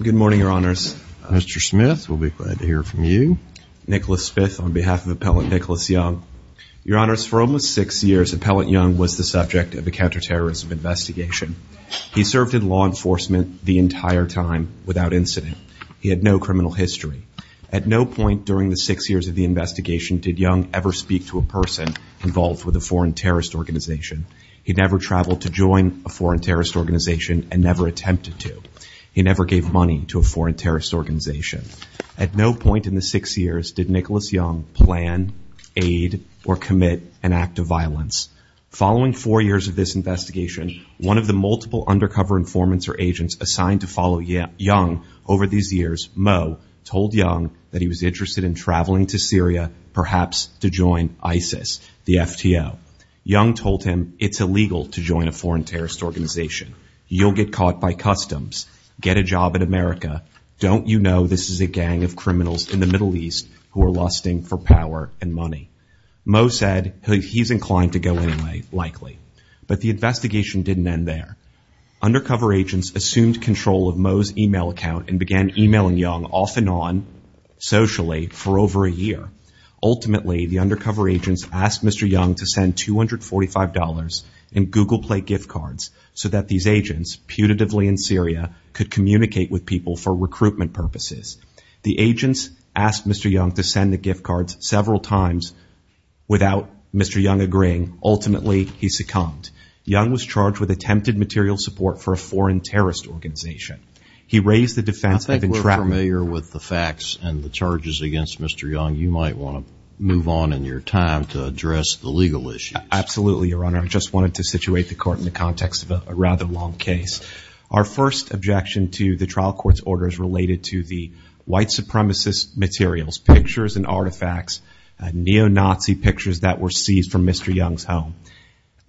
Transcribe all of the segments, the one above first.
Good morning, Your Honors. Mr. Smith, we'll be glad to hear from you. Nicholas Smith on behalf of Appellant Nicholas Young. Your Honors, for almost six years, Appellant Young was the subject of a counterterrorism investigation. He served in law enforcement the entire time without incident. He had no criminal history. At no point during the six years of the investigation did Young ever speak to a person involved with a foreign terrorist organization. He never traveled to join a foreign terrorist organization and never attempted to. He never gave money to a foreign terrorist organization. At no point in the six years did Nicholas Young plan, aid, or commit an act of violence. Following four years of this investigation, one of the multiple undercover informants or agents assigned to follow Young over these years, Mo, told Young that he was interested in traveling to Syria, perhaps to join ISIS, the FTO. Young told him it's illegal to join a foreign terrorist organization. You'll get caught by customs. Get a job in America. Don't you know this is a gang of criminals in the Middle East who are lusting for power and money? Mo said he's inclined to go anyway, likely. But the investigation didn't end there. Undercover agents assumed control of Mo's email account and began emailing Young off and on, socially, for over a year. Ultimately, the undercover agents asked Mr. Young to send $245 in Google Play gift cards so that these agents, putatively in Syria, could communicate with people for recruitment purposes. The agents asked Mr. Young to send the gift cards several times without Mr. Young agreeing. Ultimately, he succumbed. Young was charged with attempted material support for a foreign terrorist organization. He raised the defense of entrapment. I think we're familiar with the facts and the charges against Mr. Young. You might want to move on in your time to address the legal issues. Absolutely, Your Honor. I just wanted to situate the court in the context of a rather long case. Our first objection to the trial court's order is related to the white supremacist materials, pictures and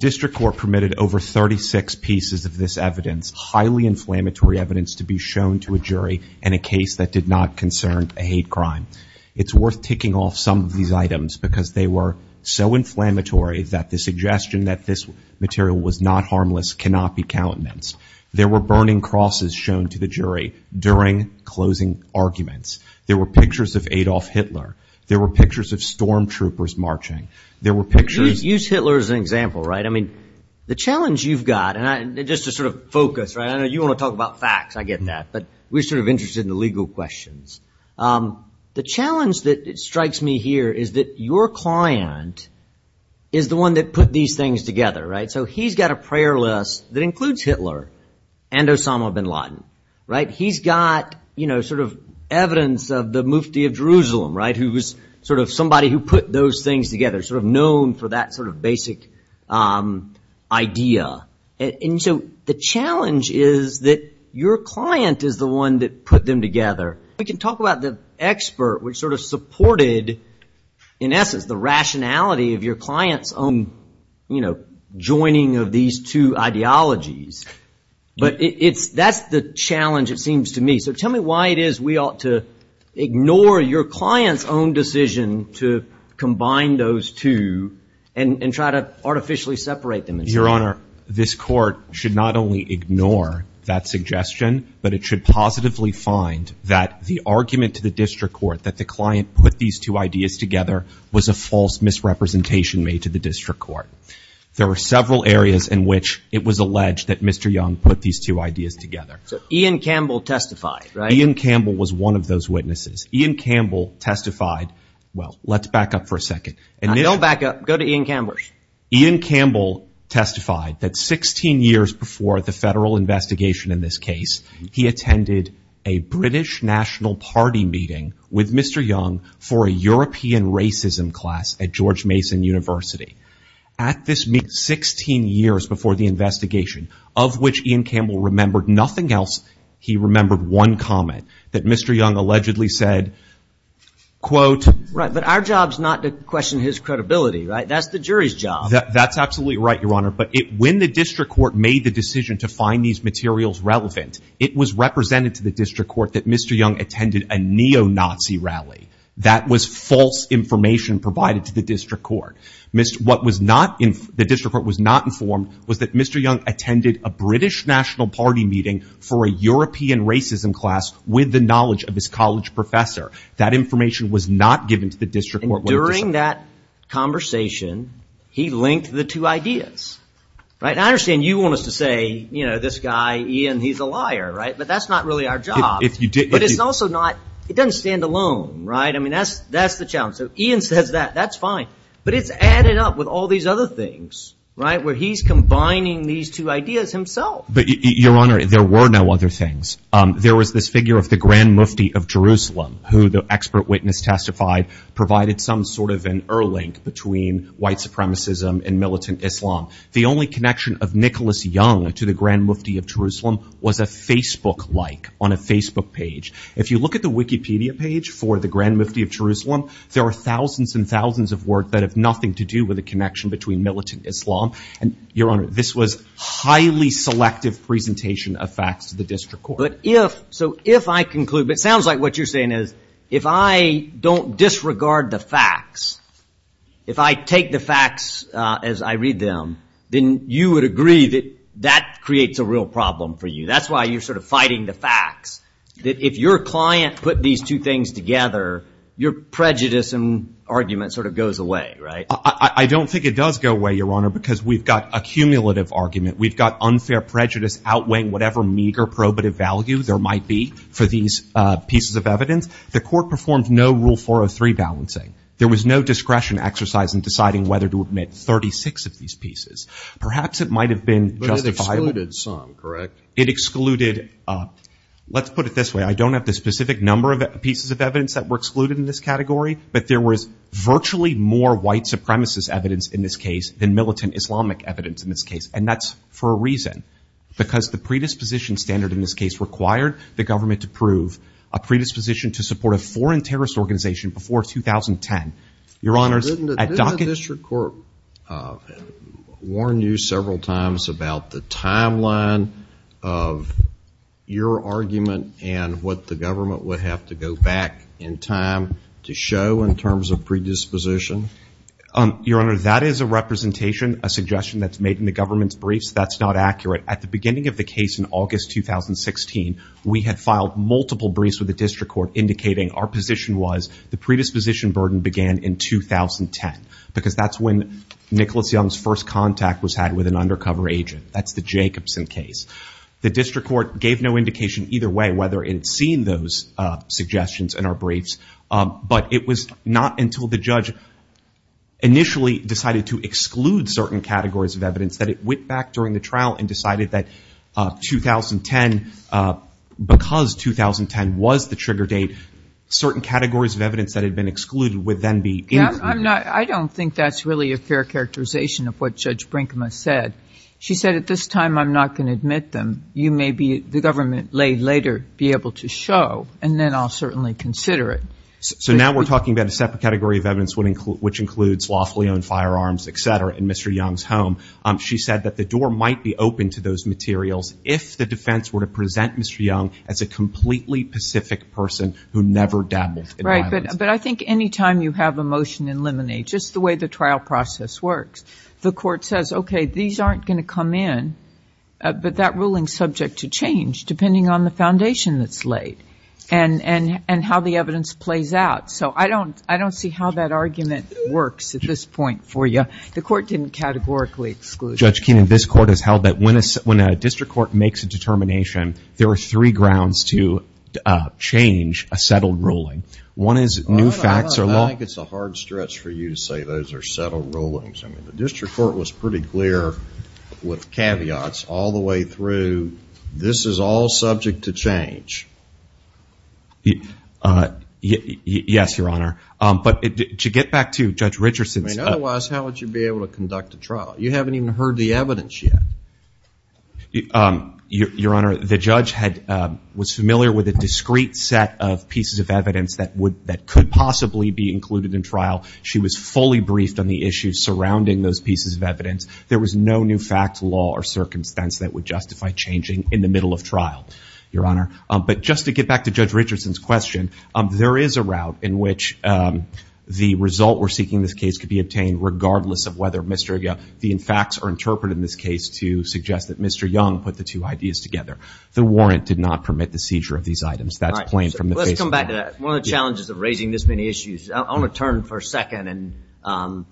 District Court permitted over 36 pieces of this evidence, highly inflammatory evidence, to be shown to a jury in a case that did not concern a hate crime. It's worth taking off some of these items because they were so inflammatory that the suggestion that this material was not harmless cannot be countenance. There were burning crosses shown to the jury during closing arguments. There were pictures of Adolf Hitler. There were pictures of stormtroopers marching. There were pictures... The challenge you've got, and just to focus, I know you want to talk about facts, I get that, but we're interested in the legal questions. The challenge that strikes me here is that your client is the one that put these things together. He's got a prayer list that includes Hitler and Osama bin Laden. He's got evidence of the Mufti of Jerusalem, who was somebody who put those things together, known for that basic idea. The challenge is that your client is the one that put them together. We can talk about the expert, which supported, in essence, the rationality of your client's own joining of these two ideologies. That's the challenge, it seems to me. Tell me why it is we ought to ignore your client's own decision to combine those two and try to artificially separate them. Your Honor, this court should not only ignore that suggestion, but it should positively find that the argument to the district court that the client put these two ideas together was a false misrepresentation made to the district court. There were several areas in which it was was one of those witnesses. Ian Campbell testified. Well, let's back up for a second. Now, don't back up. Go to Ian Campbell. Ian Campbell testified that 16 years before the federal investigation in this case, he attended a British National Party meeting with Mr. Young for a European racism class at George Mason University. At this meeting, 16 years before the investigation, of which Ian Campbell remembered nothing else, he remembered one comment that Mr. Young allegedly said, quote, Right, but our job's not to question his credibility, right? That's the jury's job. That's absolutely right, Your Honor. But when the district court made the decision to find these materials relevant, it was represented to the district court that Mr. Young attended a neo-Nazi rally. That was false information provided to the district court. What was not in the district court was not informed was that Mr. Young attended a British National Party meeting for a European racism class with the knowledge of his college professor. That information was not given to the district court. During that conversation, he linked the two ideas, right? And I understand you want us to say, you know, this guy, Ian, he's a liar, right? But that's not really our job. But it's also not, it doesn't stand alone, right? I mean, that's the challenge. So Ian says that, that's fine. But it's added up with all these other things, right? Where he's no other things. There was this figure of the Grand Mufti of Jerusalem who the expert witness testified provided some sort of an earl ink between white supremacism and militant Islam. The only connection of Nicholas Young to the Grand Mufti of Jerusalem was a Facebook like on a Facebook page. If you look at the Wikipedia page for the Grand Mufti of Jerusalem, there are thousands and thousands of work that have nothing to do with the connection between But if, so if I conclude, but it sounds like what you're saying is if I don't disregard the facts, if I take the facts as I read them, then you would agree that that creates a real problem for you. That's why you're sort of fighting the facts. That if your client put these two things together, your prejudice and argument sort of goes away, right? I don't think it does go away, Your Honor, because we've got a cumulative argument. We've unfair prejudice outweighing whatever meager probative value there might be for these pieces of evidence. The court performed no Rule 403 balancing. There was no discretion exercise in deciding whether to admit 36 of these pieces. Perhaps it might have been justifiable. But it excluded some, correct? It excluded, let's put it this way. I don't have the specific number of pieces of evidence that were excluded in this category, but there was virtually more white supremacist evidence in this case than militant Islamic evidence in this case. And that's for a reason. Because the predisposition standard in this case required the government to prove a predisposition to support a foreign terrorist organization before 2010. Your Honors, at Dockett- Didn't the district court warn you several times about the timeline of your argument and what the government would have to go back in time to show in terms of predisposition? Your Honor, that is a representation, a suggestion that's made in the government's briefs. That's not accurate. At the beginning of the case in August 2016, we had filed multiple briefs with the district court indicating our position was the predisposition burden began in 2010. Because that's when Nicholas Young's first contact was had with an undercover agent. That's the Jacobson case. The district court gave no indication either way whether it had seen those suggestions in our initially decided to exclude certain categories of evidence that it went back during the trial and decided that 2010, because 2010 was the trigger date, certain categories of evidence that had been excluded would then be included. I don't think that's really a fair characterization of what Judge Brinkman said. She said, at this time, I'm not going to admit them. You may be, the government later, be able to show, and then I'll certainly consider it. So now we're talking about a separate category of evidence which includes lawfully owned firearms, et cetera, in Mr. Young's home. She said that the door might be open to those materials if the defense were to present Mr. Young as a completely pacific person who never dabbled. Right, but I think any time you have a motion in limine, just the way the trial process works, the court says, okay, these aren't going to come in, but that ruling's subject to change, depending on the foundation that's laid and how the evidence plays out. So I don't see how that argument works at this point for you. The court didn't categorically exclude. Judge Keenan, this court has held that when a district court makes a determination, there are three grounds to change a settled ruling. One is new facts are law. I think it's a hard stretch for you to say those are settled rulings. I mean, district court was pretty clear with caveats all the way through, this is all subject to change. Yes, Your Honor. But to get back to Judge Richardson's- Otherwise, how would you be able to conduct a trial? You haven't even heard the evidence yet. Your Honor, the judge was familiar with a discrete set of pieces of evidence that could possibly be included in trial. She was fully briefed on the issues surrounding those pieces of evidence. There was no new fact, law, or circumstance that would justify changing in the middle of trial, Your Honor. But just to get back to Judge Richardson's question, there is a route in which the result we're seeking in this case could be obtained, regardless of whether the facts are interpreted in this case to suggest that Mr. Young put the two ideas together. The warrant did not permit the seizure of these items. That's plain from the- Let's come back to that. One of the challenges of raising this many issues, I want to turn for a second and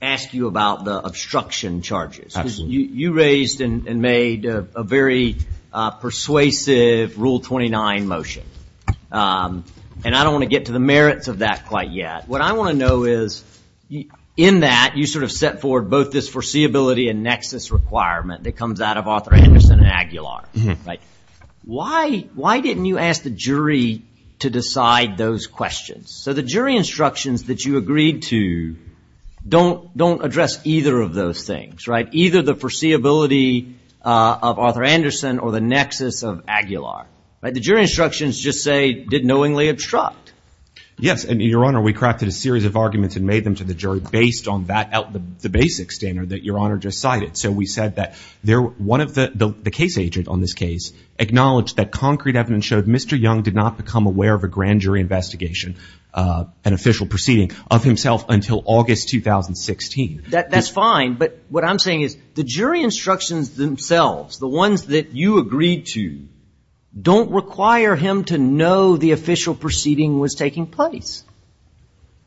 ask you about the obstruction charges. You raised and made a very persuasive Rule 29 motion. And I don't want to get to the merits of that quite yet. What I want to know is, in that, you sort of set forward both this foreseeability and nexus requirement that to decide those questions. So the jury instructions that you agreed to don't address either of those things, right? Either the foreseeability of Arthur Anderson or the nexus of Aguilar, right? The jury instructions just say, did knowingly obstruct. Yes. And Your Honor, we crafted a series of arguments and made them to the jury based on the basic standard that Your Honor just cited. So we said that one of the case agent on this case acknowledged that concrete evidence showed Mr. Young did not become aware of a grand jury investigation, an official proceeding, of himself until August 2016. That's fine. But what I'm saying is the jury instructions themselves, the ones that you agreed to, don't require him to know the official proceeding was taking place.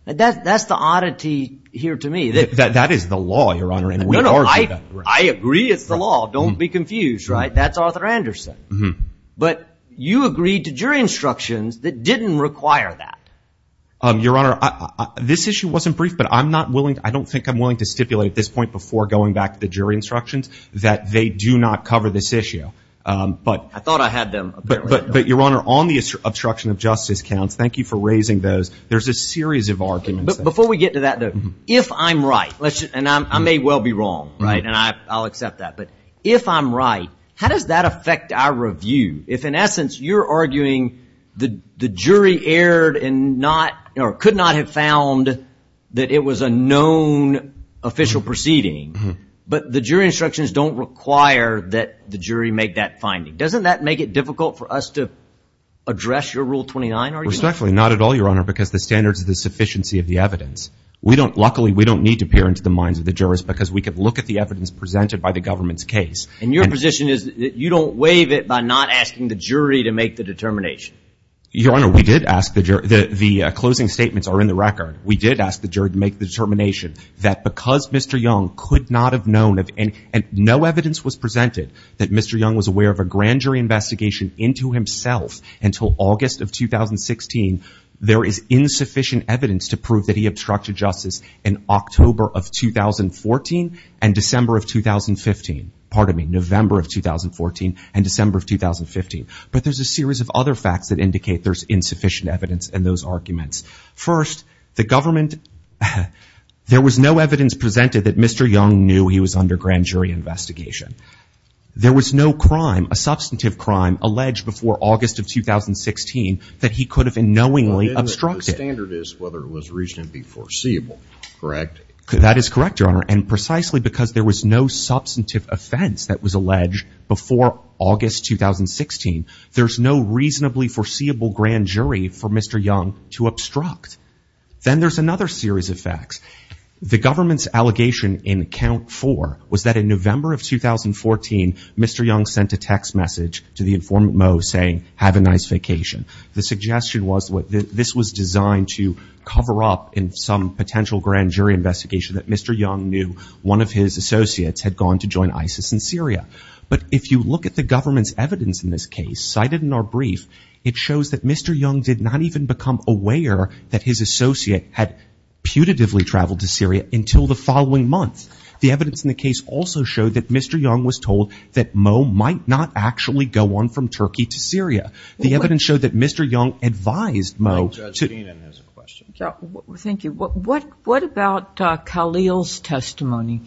That's the oddity here to me. That is the law, Your Honor. No, no. I agree it's the law. Don't be confused, right? That's Arthur Anderson. But you agreed to jury instructions that didn't require that. Your Honor, this issue wasn't brief, but I don't think I'm willing to stipulate at this point before going back to the jury instructions that they do not cover this issue. I thought I had them. But Your Honor, on the obstruction of justice counts, thank you for raising those. There's a series of arguments. Before we get to that though, if I'm right, and I may well be wrong, right? And I'll accept that. If I'm right, how does that affect our review? If in essence, you're arguing the jury could not have found that it was a known official proceeding, but the jury instructions don't require that the jury make that finding. Doesn't that make it difficult for us to address your Rule 29 argument? Respectfully, not at all, Your Honor, because the standards of the sufficiency of the evidence. Luckily, we don't need to peer into the minds of the jurors because we could look at the evidence presented by the government's case. And your position is that you don't waive it by not asking the jury to make the determination. Your Honor, we did ask the jury. The closing statements are in the record. We did ask the jury to make the determination that because Mr. Young could not have known of any, and no evidence was presented that Mr. Young was aware of a grand jury investigation into himself until August of 2016, there is insufficient evidence to prove that he obstructed justice in October of 2014 and December of 2015. Pardon me, November of 2014 and December of 2015. But there's a series of other facts that indicate there's insufficient evidence in those arguments. First, the government, there was no evidence presented that Mr. Young knew he was under grand jury investigation. There was no crime, a substantive crime, alleged before August of 2016 that he could have unknowingly obstructed. The standard is whether it was reasonably foreseeable, correct? That is correct, Your Honor. And precisely because there was no substantive offense that was alleged before August 2016, there's no reasonably foreseeable grand jury for Mr. Young to obstruct. Then there's another series of facts. The government's allegation in count four was that in November of 2014, Mr. Young sent a text message to the informant Mo saying, have a nice vacation. The suggestion was that this was designed to cover up in some potential grand jury investigation that Mr. Young knew one of his associates had gone to join ISIS in Syria. But if you look at the government's evidence in this case, cited in our brief, it shows that Mr. Young did not even become aware that his associate had putatively traveled to Syria until the following month. The evidence in the case also showed that Mr. Young was told that Mo might not actually go on from Turkey to Syria. The evidence showed that Mr. Young advised Mo to... Thank you. What about Kahlil's testimony?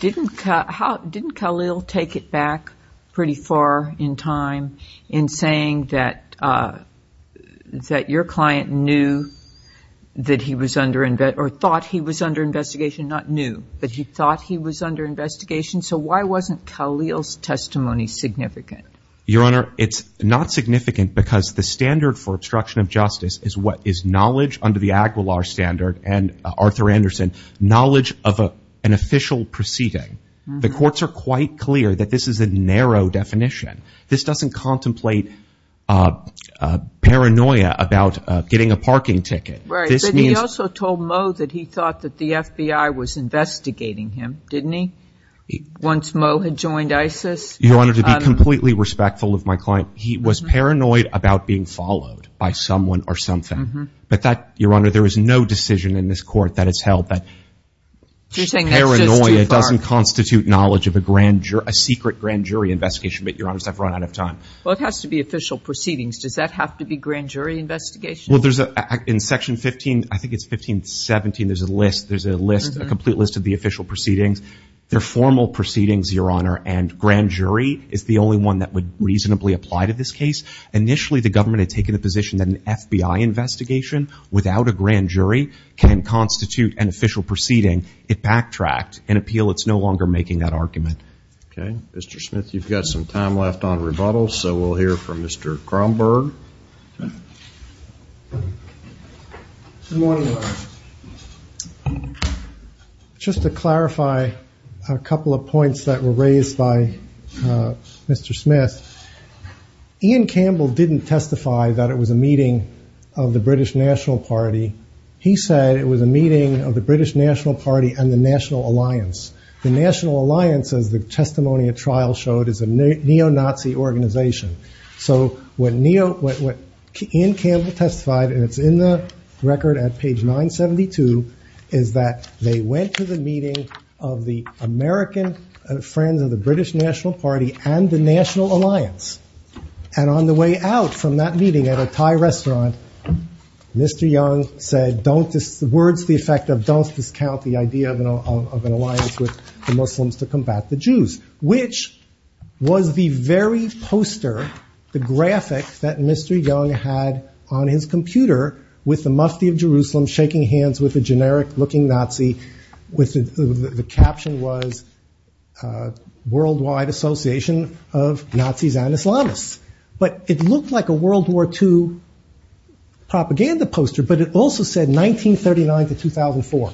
Didn't Kahlil take it back pretty far in time in saying that your client knew that he was under investigation, or thought he was under investigation? Not knew, but he thought he was under investigation. So why wasn't Kahlil's testimony significant? Your Honor, it's not significant because the standard for obstruction of justice is what is knowledge under the Aguilar standard and Arthur Anderson, knowledge of an official proceeding. The courts are quite clear that this is a narrow definition. This doesn't contemplate paranoia about getting a parking ticket. Right. But he also told Mo that he thought that the FBI was investigating him, didn't he? Once Mo had joined ISIS? Your Honor, to be completely respectful of my client, he was paranoid about being followed by someone or something. But that, Your Honor, there is no decision in this court that it's held that paranoia doesn't constitute knowledge of a secret grand jury investigation. But, Your Honor, I've run out of time. Well, it has to be official proceedings. Does that have to be grand jury investigation? Well, there's, in Section 15, I think it's 1517, there's a list, there's a list, a complete list of the official proceedings. They're formal proceedings, Your Honor, and grand jury is the only one that would reasonably apply to this case. Initially, the government had taken the position that an FBI investigation without a grand jury can constitute an official proceeding. It backtracked. In appeal, it's no longer making that argument. Okay. Mr. Smith, you've got some time left on rebuttals, so we'll hear from Mr. Cromberg. Good morning, Your Honor. Just to clarify a couple of points that were raised by Mr. Smith, Ian Campbell didn't testify that it was a meeting of the British National Party. He said it was a meeting of the British National Party and the National Alliance. The National Alliance, as the testimony at trial showed, is a neo-Nazi organization. So what Ian Campbell testified, and it's in the record at page 972, is that they went to the meeting of the American friends of British National Party and the National Alliance, and on the way out from that meeting at a Thai restaurant, Mr. Young said, the words to the effect of, don't discount the idea of an alliance with the Muslims to combat the Jews, which was the very poster, the graphic that Mr. Young had on his computer with the Mufti of Jerusalem shaking hands with a generic-looking Nazi. With the caption was, Worldwide Association of Nazis and Islamists. But it looked like a World War II propaganda poster, but it also said 1939 to 2004.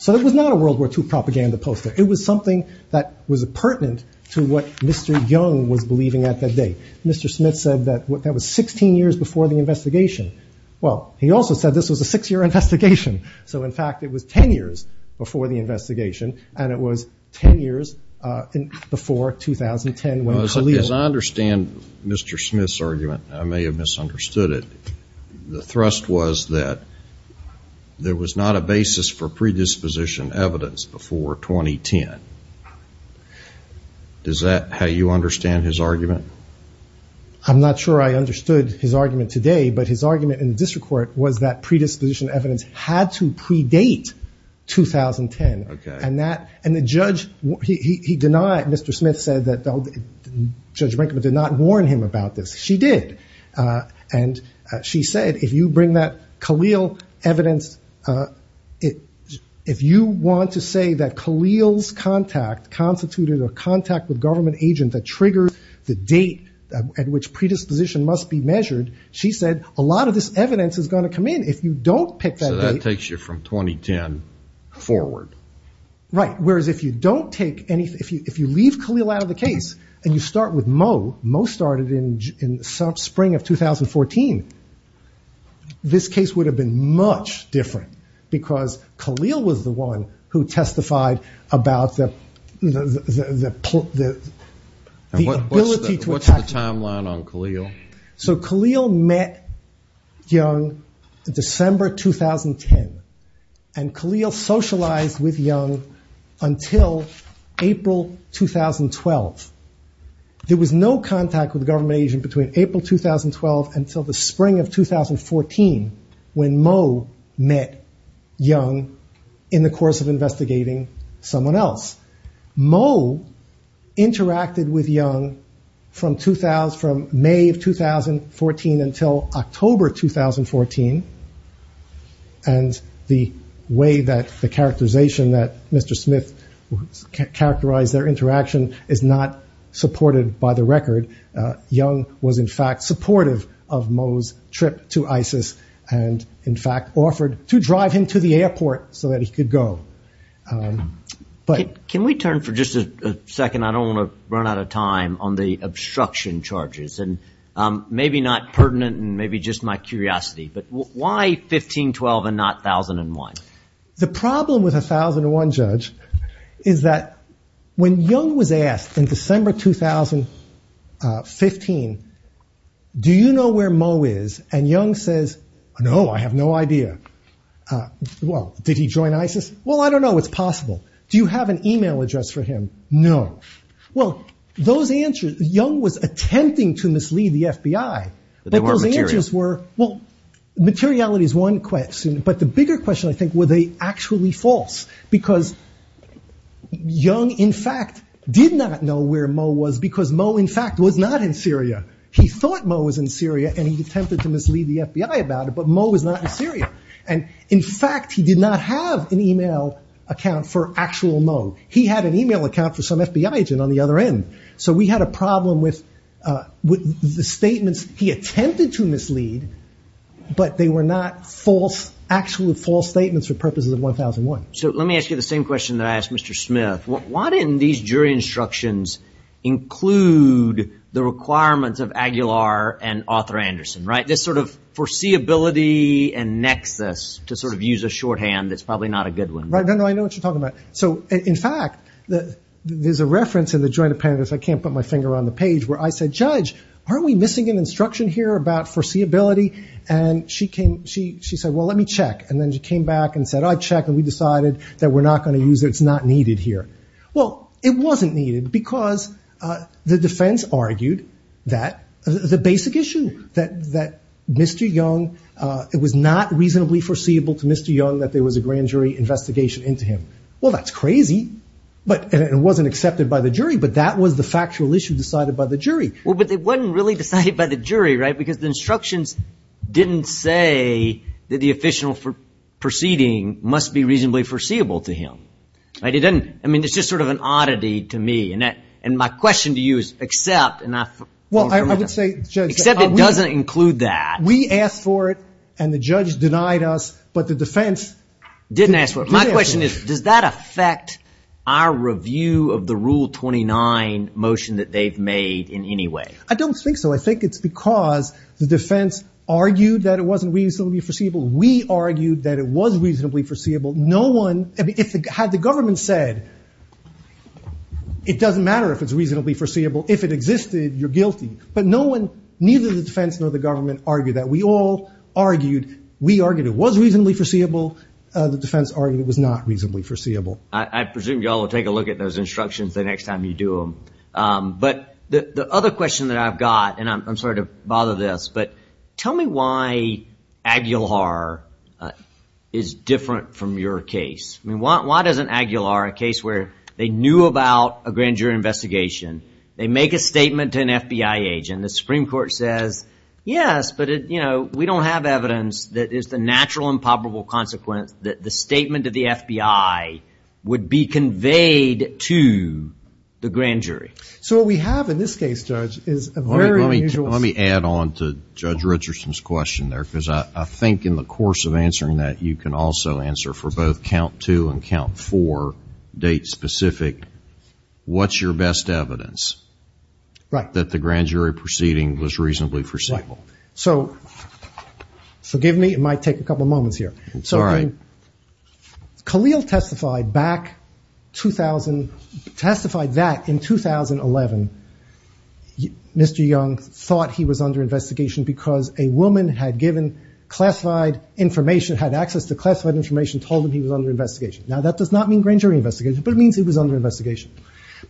So it was not a World War II propaganda poster. It was something that was pertinent to what Mr. Young was believing at that day. Mr. Smith said that that was 16 years before the investigation. Well, he also said this was a 10 years before the investigation, and it was 10 years before 2010 when Khalil- As I understand Mr. Smith's argument, I may have misunderstood it. The thrust was that there was not a basis for predisposition evidence before 2010. Does that, how you understand his argument? I'm not sure I understood his argument today, but his argument in the district court was that 2010. And the judge, he denied, Mr. Smith said that Judge Brinkman did not warn him about this. She did. And she said if you bring that Khalil evidence, if you want to say that Khalil's contact constituted a contact with government agent that triggers the date at which predisposition must be measured, she said a lot of this evidence is going to come in if you don't pick that date. From 2010 forward. Right. Whereas if you don't take anything, if you leave Khalil out of the case, and you start with Mo, Mo started in spring of 2014, this case would have been much different because Khalil was the one who testified about the ability to- What's the timeline on Khalil? So Khalil met Young in December 2010. And Khalil socialized with Young until April 2012. There was no contact with government agent between April 2012 until the spring of 2014, when Mo met Young in the course of investigating someone else. Mo interacted with Young from May of 2014 until October 2014. And the way that the characterization that Mr. Smith characterized their interaction is not supported by the record. Young was in fact supportive of Mo's trip to ISIS, and in fact offered to drive him to the airport so that he could go. But can we turn for just a second, I don't want to run out of time on the obstruction charges and maybe not pertinent and maybe just my curiosity, but why 1512 and not 1001? The problem with 1001 judge is that when Young was asked in December 2015, do you know where Mo is? And Young says, No, I have no idea. Uh, well, did he join ISIS? Well, I don't know it's possible. Do you have an email address for him? No. Well, those answers, Young was attempting to mislead the FBI. But those answers were, well, materiality is one question. But the bigger question, I think, were they actually false? Because Young, in fact, did not know where Mo was, because Mo, in fact, was not in Syria. He thought Mo was in Syria, and he attempted to mislead the FBI about it, but Mo was not in Syria. In fact, he did not have an email account for actual Mo. He had an email account for some FBI agent on the other end. So we had a problem with the statements he attempted to mislead, but they were not false, actually false statements for purposes of 1001. So let me ask you the same question that I asked Mr. Smith. Why didn't these jury instructions include the requirements of Aguilar and Arthur Anderson, right? This sort of foreseeability and nexus to sort of use a shorthand that's probably not a good one. Right. No, no, I know what you're talking about. So in fact, there's a reference in the joint appendix, I can't put my finger on the page, where I said, Judge, are we missing an instruction here about foreseeability? And she said, well, let me check. And then she came back and said, I checked, and we decided that we're not going to use it. It's not needed here. Well, it wasn't needed, because the defense argued that the basic issue that Mr. Young, it was not reasonably foreseeable to Mr. Young that there was a grand jury investigation into him. Well, that's crazy. But it wasn't accepted by the jury, but that was the factual issue decided by the jury. Well, but it wasn't really decided by the jury, right? Because the instructions didn't say that the official proceeding must be reasonably foreseeable to him. I mean, it's just sort of an oddity to me. And my question to you is, except, except it doesn't include that. We asked for it, and the judge denied us, but the defense didn't ask for it. My question is, does that affect our review of the Rule 29 motion that they've made in any way? I don't think so. I think it's because the defense argued that it wasn't reasonably foreseeable. We argued that it was reasonably foreseeable. Had the government said, it doesn't matter if it's reasonably foreseeable. If it existed, you're guilty. But neither the defense nor the government argued that. We all argued, we argued it was reasonably foreseeable. The defense argued it was not reasonably foreseeable. I presume you all will take a look at those instructions the next time you do them. But the other question that I've got, and I'm sorry to bother this, but tell me why Aguilar is different from your case. I mean, why doesn't Aguilar, a case where they knew about a grand jury investigation, they make a statement to an FBI agent, the Supreme Court says, yes, but, you know, we don't have evidence that is the natural and probable consequence that the statement of the FBI would be conveyed to the grand jury. So what we have in this case, Judge, is a very unusual... In the course of answering that, you can also answer for both count two and count four, date specific, what's your best evidence that the grand jury proceeding was reasonably foreseeable? So forgive me, it might take a couple of moments here. So Khalil testified back, testified that in 2011, Mr. Young thought he was under investigation because a woman had given classified information, had access to classified information, told him he was under investigation. Now, that does not mean grand jury investigation, but it means he was under investigation.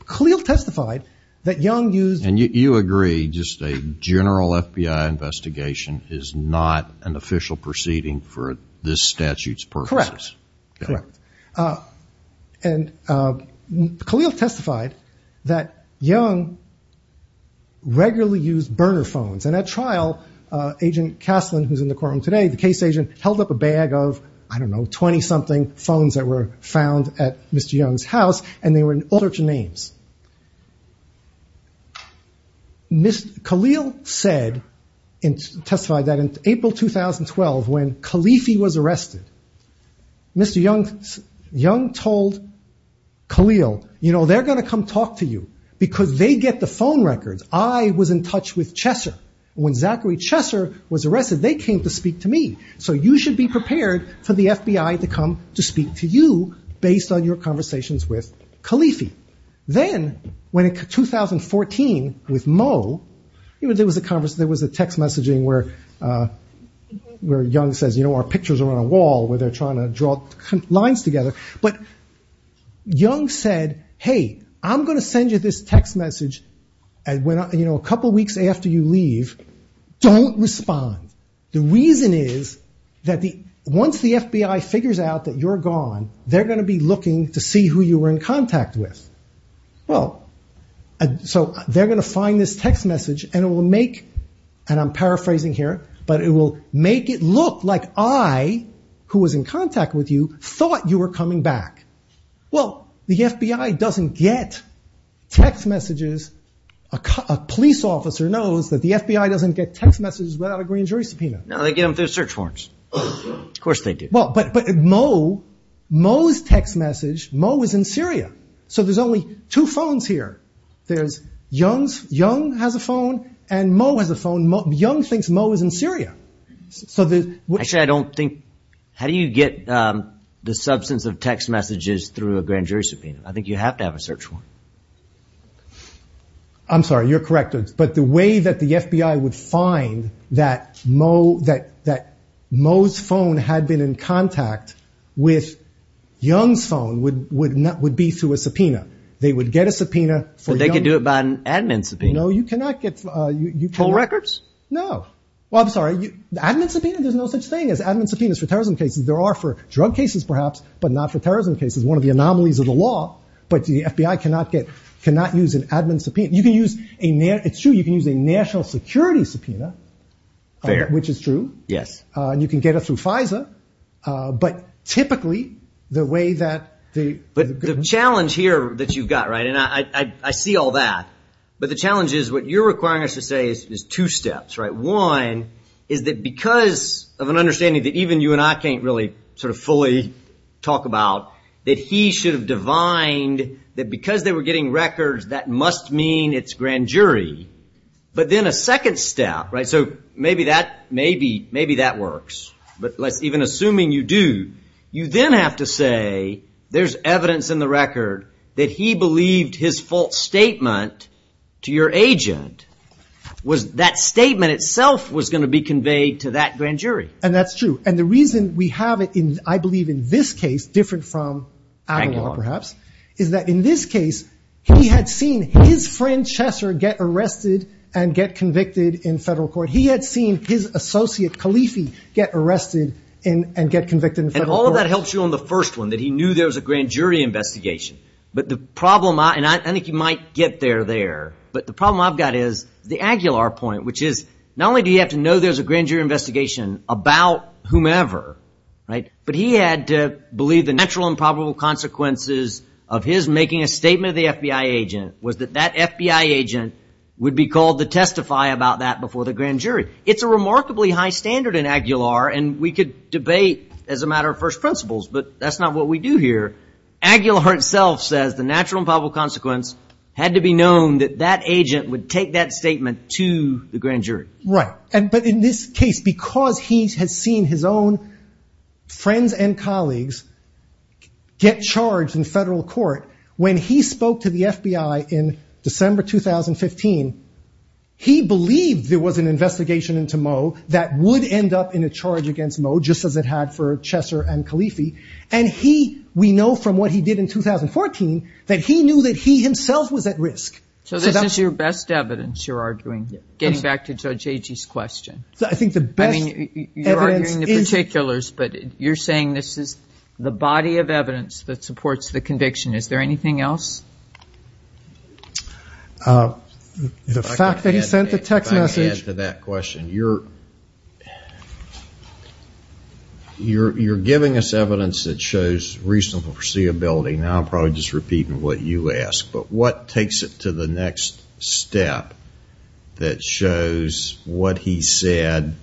Khalil testified that Young used... And you agree, just a general FBI investigation is not an official proceeding for this statute's purposes? Correct. Correct. And Khalil testified that Young regularly used burner phones. And at trial, Agent Caslin, who's in the courtroom today, the case agent, held up a bag of, I don't know, 20-something phones that were found at Mr. Young's house, and they were in all sorts of names. Khalil said, and testified that in April 2012, when Khalifi was arrested, Mr. Young told Khalil, you know, they're going to come talk to you because they get the phone records. I was in touch with Chesser. When Zachary Chesser was arrested, they came to speak to me. So you should be prepared for the FBI to come to speak to you based on your conversations with Khalifi. Then, when in 2014, with Mo, there was a text messaging where Young says, you know, our pictures are on a wall where they're trying to draw lines together. But Young said, hey, I'm going to send you this text message, you know, a couple weeks after you leave. Don't respond. The reason is that once the FBI figures out that you're gone, they're going to be looking to see who you were in contact with. So they're going to find this text message, and it will make, and I'm paraphrasing here, but it will make it look like I, who was in contact with you, thought you were coming back. Well, the FBI doesn't get text messages. A police officer knows that the FBI doesn't get text messages without a green jury subpoena. No, they get them through search warrants. Of course they do. But Mo, Mo's text message, Mo is in Syria. So there's only two phones here. There's Young's, Young has a phone, and Mo has a phone. Young thinks Mo is in Syria. So the, actually I don't think, how do you get the substance of text messages through a grand jury subpoena? I think you have to have a search warrant. I'm sorry, you're correct. But the way that the FBI would find that Mo, that, that Mo's phone had been in contact with Young's phone would, would not, would be through a subpoena. They would get a subpoena. So they could do it by an admin subpoena. No, you cannot get, you cannot. No. Well, I'm sorry. The admin subpoena, there's no such thing as admin subpoenas for terrorism cases. There are for drug cases, perhaps, but not for terrorism cases. One of the anomalies of the law, but the FBI cannot get, cannot use an admin subpoena. You can use a, it's true, you can use a national security subpoena, which is true. Yes. And you can get it through FISA. But typically the way that the, but the challenge here that you've got, right. And I, I, I see all that, but the challenge is what you're requiring us to say is two steps, right? One is that because of an understanding that even you and I can't really sort of fully talk about, that he should have divined that because they were getting records, that must mean it's grand jury. But then a second step, right? So maybe that, maybe, maybe that works, but let's even assuming you do, you then have to say there's evidence in the record that he believed his false statement to your agent was, that statement itself was going to be conveyed to that grand jury. And that's true. And the reason we have it in, I believe in this case, different from Avalon perhaps, is that in this case, he had seen his friend Chesser get arrested and get convicted in federal court. He had seen his associate Califi get arrested and, and get convicted in federal court. And all of that helps you on the first one, that he knew there was a there. But the problem I've got is the Aguilar point, which is not only do you have to know there's a grand jury investigation about whomever, right? But he had to believe the natural and probable consequences of his making a statement of the FBI agent was that that FBI agent would be called to testify about that before the grand jury. It's a remarkably high standard in Aguilar and we could debate as a matter of first principles, but that's not what we do here. Aguilar himself says the natural and probable consequence had to be known that that agent would take that statement to the grand jury. Right. And, but in this case, because he has seen his own friends and colleagues get charged in federal court, when he spoke to the FBI in December, 2015, he believed there was an investigation into Mo that would end up in a charge against Mo just as it had for we know from what he did in 2014, that he knew that he himself was at risk. So this is your best evidence you're arguing, getting back to Judge Agee's question. So I think the best evidence is... I mean, you're arguing the particulars, but you're saying this is the body of evidence that supports the conviction. Is there anything else? The fact that he sent the text message... Now I'm probably just repeating what you asked, but what takes it to the next step that shows what he said,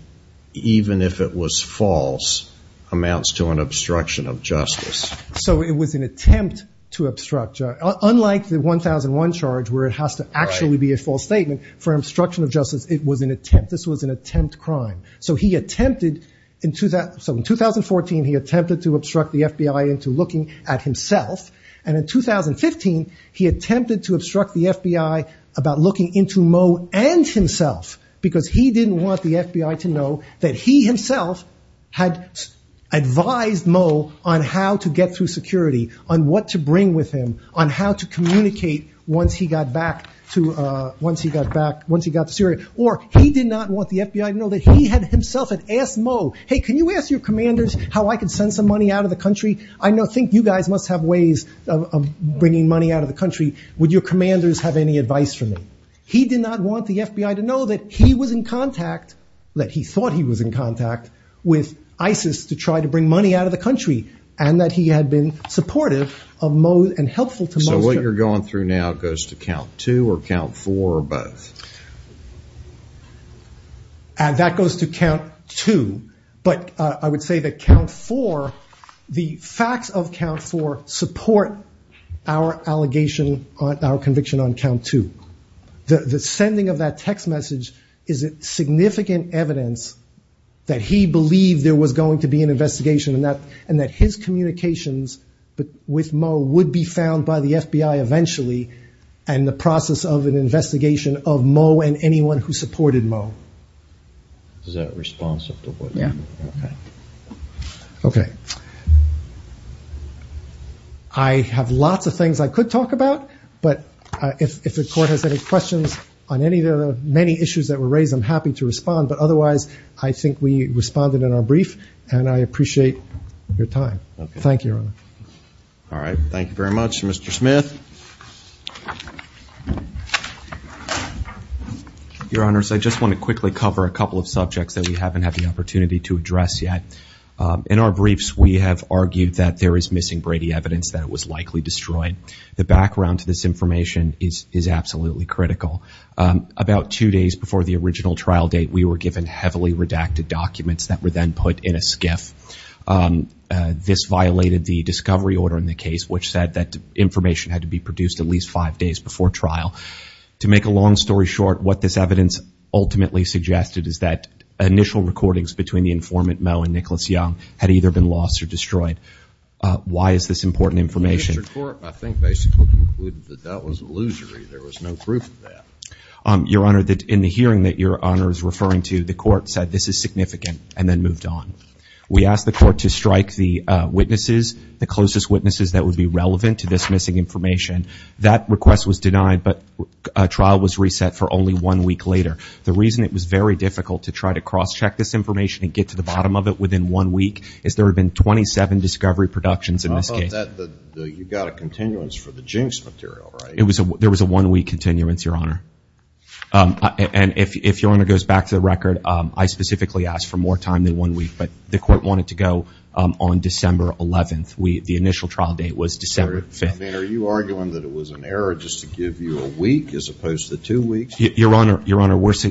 even if it was false, amounts to an obstruction of justice? So it was an attempt to obstruct. Unlike the 1001 charge, where it has to actually be a false statement for obstruction of justice, it was an attempt. This was an attempt crime. So he attempted in 2014, he attempted to obstruct the FBI into looking at himself. And in 2015, he attempted to obstruct the FBI about looking into Mo and himself, because he didn't want the FBI to know that he himself had advised Mo on how to get through security, on what to bring with him, on how to communicate once he got back to Syria. Or he did not want the FBI to know that he had asked Mo, hey, can you ask your commanders how I can send some money out of the country? I think you guys must have ways of bringing money out of the country. Would your commanders have any advice for me? He did not want the FBI to know that he was in contact, that he thought he was in contact with ISIS to try to bring money out of the country, and that he had been supportive of Mo and helpful to Mo. So what you're going through now goes to count two or count four or four. And that goes to count two. But I would say that count four, the facts of count four support our allegation, our conviction on count two. The sending of that text message is significant evidence that he believed there was going to be an investigation and that his communications with Mo would be found by the FBI eventually. And the process of an investigation of Mo and anyone who supported Mo. Is that responsive to what you mean? Yeah. Okay. I have lots of things I could talk about. But if the court has any questions on any of the many issues that were raised, I'm happy to respond. But otherwise, I think we responded in our brief. And I appreciate your time. Thank you. All right. Thank you very much, Mr. Smith. Your Honors, I just want to quickly cover a couple of subjects that we haven't had the opportunity to address yet. In our briefs, we have argued that there is missing Brady evidence that it was likely destroyed. The background to this information is absolutely critical. About two days before the original trial date, we were given heavily redacted documents that were then put in a skiff. This violated the discovery order in the case, which said that information had to be produced at least five days before trial. To make a long story short, what this evidence ultimately suggested is that initial recordings between the informant Mo and Nicholas Young had either been lost or destroyed. Why is this important information? I think basically concluded that that was illusory. There was no proof of that. Your Honor, in the hearing that Your Honor is referring to, the court said this is significant and then moved on. We asked the court to strike the witnesses, the closest witnesses that would be relevant to this missing information. That request was denied, but a trial was reset for only one week later. The reason it was very difficult to try to cross-check this information and get to the bottom of it within one week is there had been 27 discovery productions in this case. How about that? You got a continuance for the jinx material, right? There was a one-week continuance, Your Honor. And if Your Honor goes back to the record, I specifically asked for more Are you arguing that it was an error just to give you a week as opposed to two weeks? Your Honor,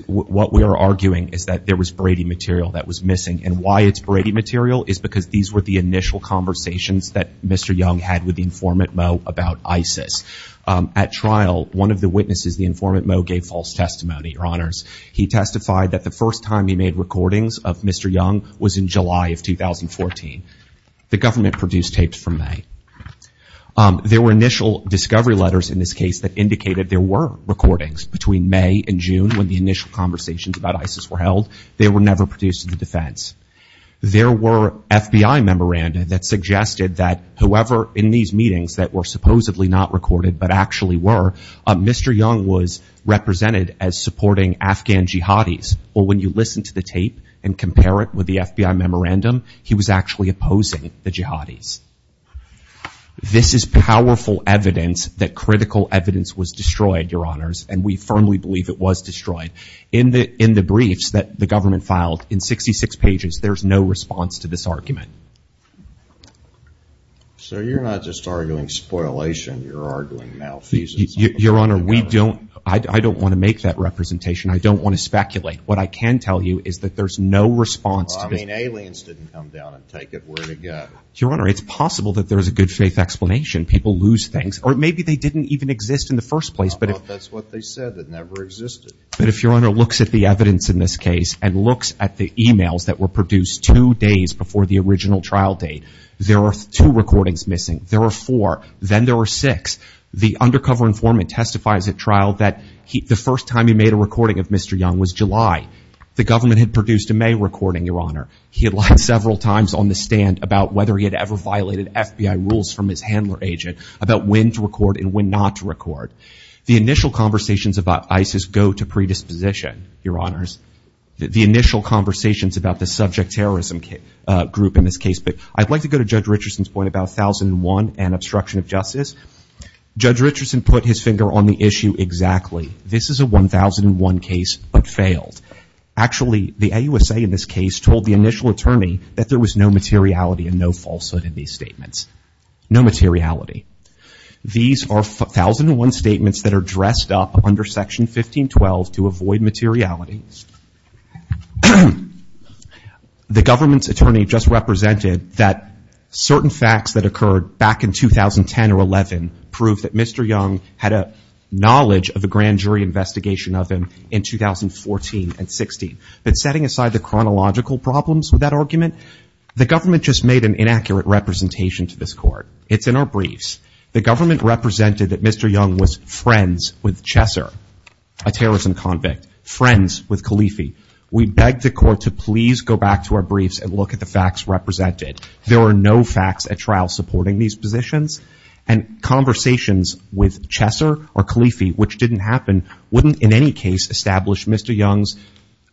what we are arguing is that there was Brady material that was missing. And why it's Brady material is because these were the initial conversations that Mr. Young had with the informant Mo about ISIS. At trial, one of the witnesses, the informant Mo, gave false testimony, Your Honors. He testified that the first time he made recordings of Mr. Young was in July of 2014. The government produced tapes from May. There were initial discovery letters in this case that indicated there were recordings between May and June when the initial conversations about ISIS were held. They were never produced in the defense. There were FBI memoranda that suggested that whoever in these meetings that were supposedly not recorded but actually were, Mr. Young was represented as supporting Afghan jihadis. Or when you listen to the tape and compare it with the the jihadis. This is powerful evidence that critical evidence was destroyed, Your Honors, and we firmly believe it was destroyed. In the briefs that the government filed, in 66 pages, there's no response to this argument. So you're not just arguing spoilation, you're arguing malfeasance. Your Honor, I don't want to make that representation. I don't want to speculate. What I can tell you is that there's no response to this. Aliens didn't come down and Your Honor, it's possible that there's a good faith explanation. People lose things, or maybe they didn't even exist in the first place, but that's what they said that never existed. But if Your Honor looks at the evidence in this case and looks at the emails that were produced two days before the original trial date, there are two recordings missing. There are four, then there are six. The undercover informant testifies at trial that the first time he made a recording of Mr. Young was July. The government had produced a May recording, Your Honor. He had several times on the stand about whether he had ever violated FBI rules from his handler agent, about when to record and when not to record. The initial conversations about ISIS go to predisposition, Your Honors. The initial conversations about the subject terrorism group in this case. But I'd like to go to Judge Richardson's point about 1001 and obstruction of justice. Judge Richardson put his finger on the issue exactly. This is a 1001 case but failed. Actually, the AUSA in this case told the initial attorney that there was no materiality and no falsehood in these statements. No materiality. These are 1001 statements that are dressed up under Section 1512 to avoid materiality. The government's attorney just represented that certain facts that occurred back in 2010 or 11 proved that Mr. Young had a knowledge of the But setting aside the chronological problems with that argument, the government just made an inaccurate representation to this court. It's in our briefs. The government represented that Mr. Young was friends with Chesser, a terrorism convict, friends with Khalifi. We begged the court to please go back to our briefs and look at the facts represented. There are no facts at trial supporting these positions and conversations with Chesser or Khalifi, which didn't happen, wouldn't in any case establish Mr. Young's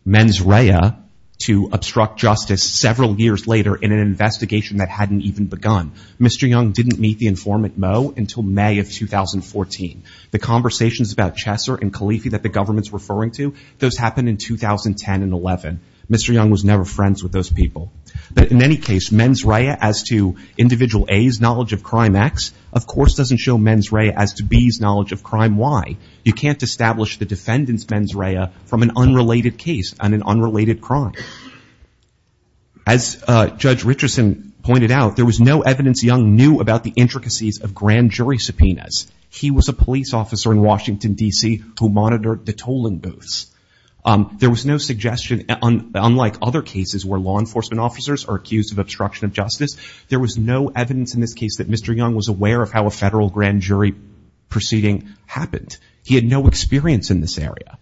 mens rea to obstruct justice several years later in an investigation that hadn't even begun. Mr. Young didn't meet the informant Mo until May of 2014. The conversations about Chesser and Khalifi that the government's referring to, those happened in 2010 and 11. Mr. Young was never friends with those people. But in any case, mens rea as to individual A's knowledge of crime acts, of course doesn't show mens rea as to B's knowledge of crime. Why? You can't establish the defendant's mens rea from an unrelated case and an unrelated crime. As Judge Richardson pointed out, there was no evidence Young knew about the intricacies of grand jury subpoenas. He was a police officer in Washington, D.C. who monitored the tolling booths. There was no suggestion, unlike other cases where law enforcement officers are accused of grand jury proceedings, he had no experience in this area.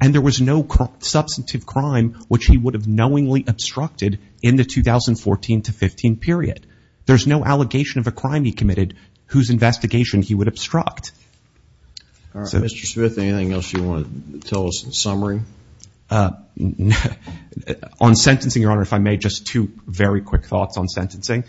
And there was no substantive crime which he would have knowingly obstructed in the 2014-15 period. There's no allegation of a crime he committed whose investigation he would obstruct. All right, Mr. Smith, anything else you want to tell us in summary? On sentencing, Your Honor, if I may, just two very quick thoughts on sentencing.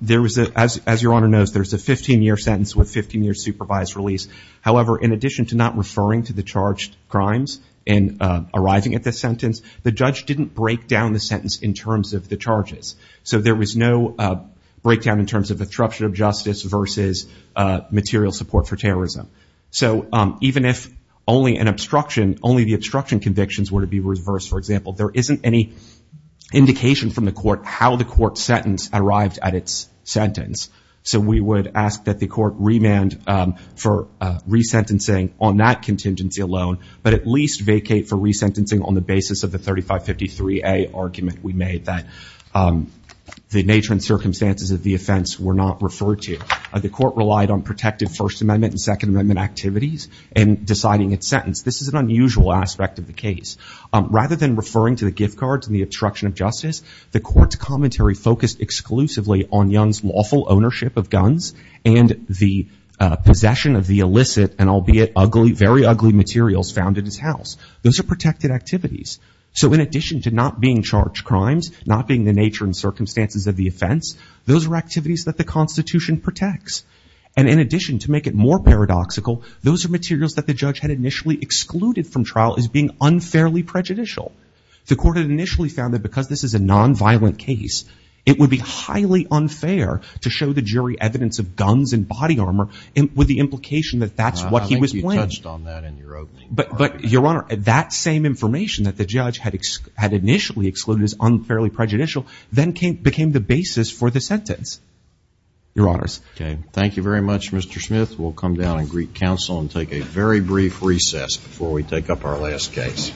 There was, as Your Honor knows, there's a 15-year sentence with 15-year supervised release. However, in addition to not referring to the charged crimes in arriving at the sentence, the judge didn't break down the sentence in terms of the charges. So there was no breakdown in terms of obstruction of justice versus material support for terrorism. So even if only an obstruction, only the obstruction convictions were to be reversed, for example, there isn't any indication from the court how the court sentence arrived at its sentence. So we would ask that the court remand for resentencing on that contingency alone, but at least vacate for resentencing on the basis of the 3553A argument we made that the nature and circumstances of the offense were not referred to. The court relied on protective First Amendment and Second Amendment activities in deciding its sentence. This is an unusual aspect of the case. Rather than referring to gift cards and the obstruction of justice, the court's commentary focused exclusively on Young's lawful ownership of guns and the possession of the illicit and albeit ugly, very ugly materials found in his house. Those are protected activities. So in addition to not being charged crimes, not being the nature and circumstances of the offense, those are activities that the Constitution protects. And in addition, to make it more paradoxical, those are materials that the judge had initially excluded from trial as being unfairly prejudicial. The court had initially found that because this is a non-violent case, it would be highly unfair to show the jury evidence of guns and body armor with the implication that that's what he was playing. I think you touched on that in your opening. But Your Honor, that same information that the judge had initially excluded as unfairly prejudicial then became the basis for the sentence. Your Honors. Thank you very much, Mr. Smith. We'll come down and greet counsel and take a very brief recess before we take up our last case.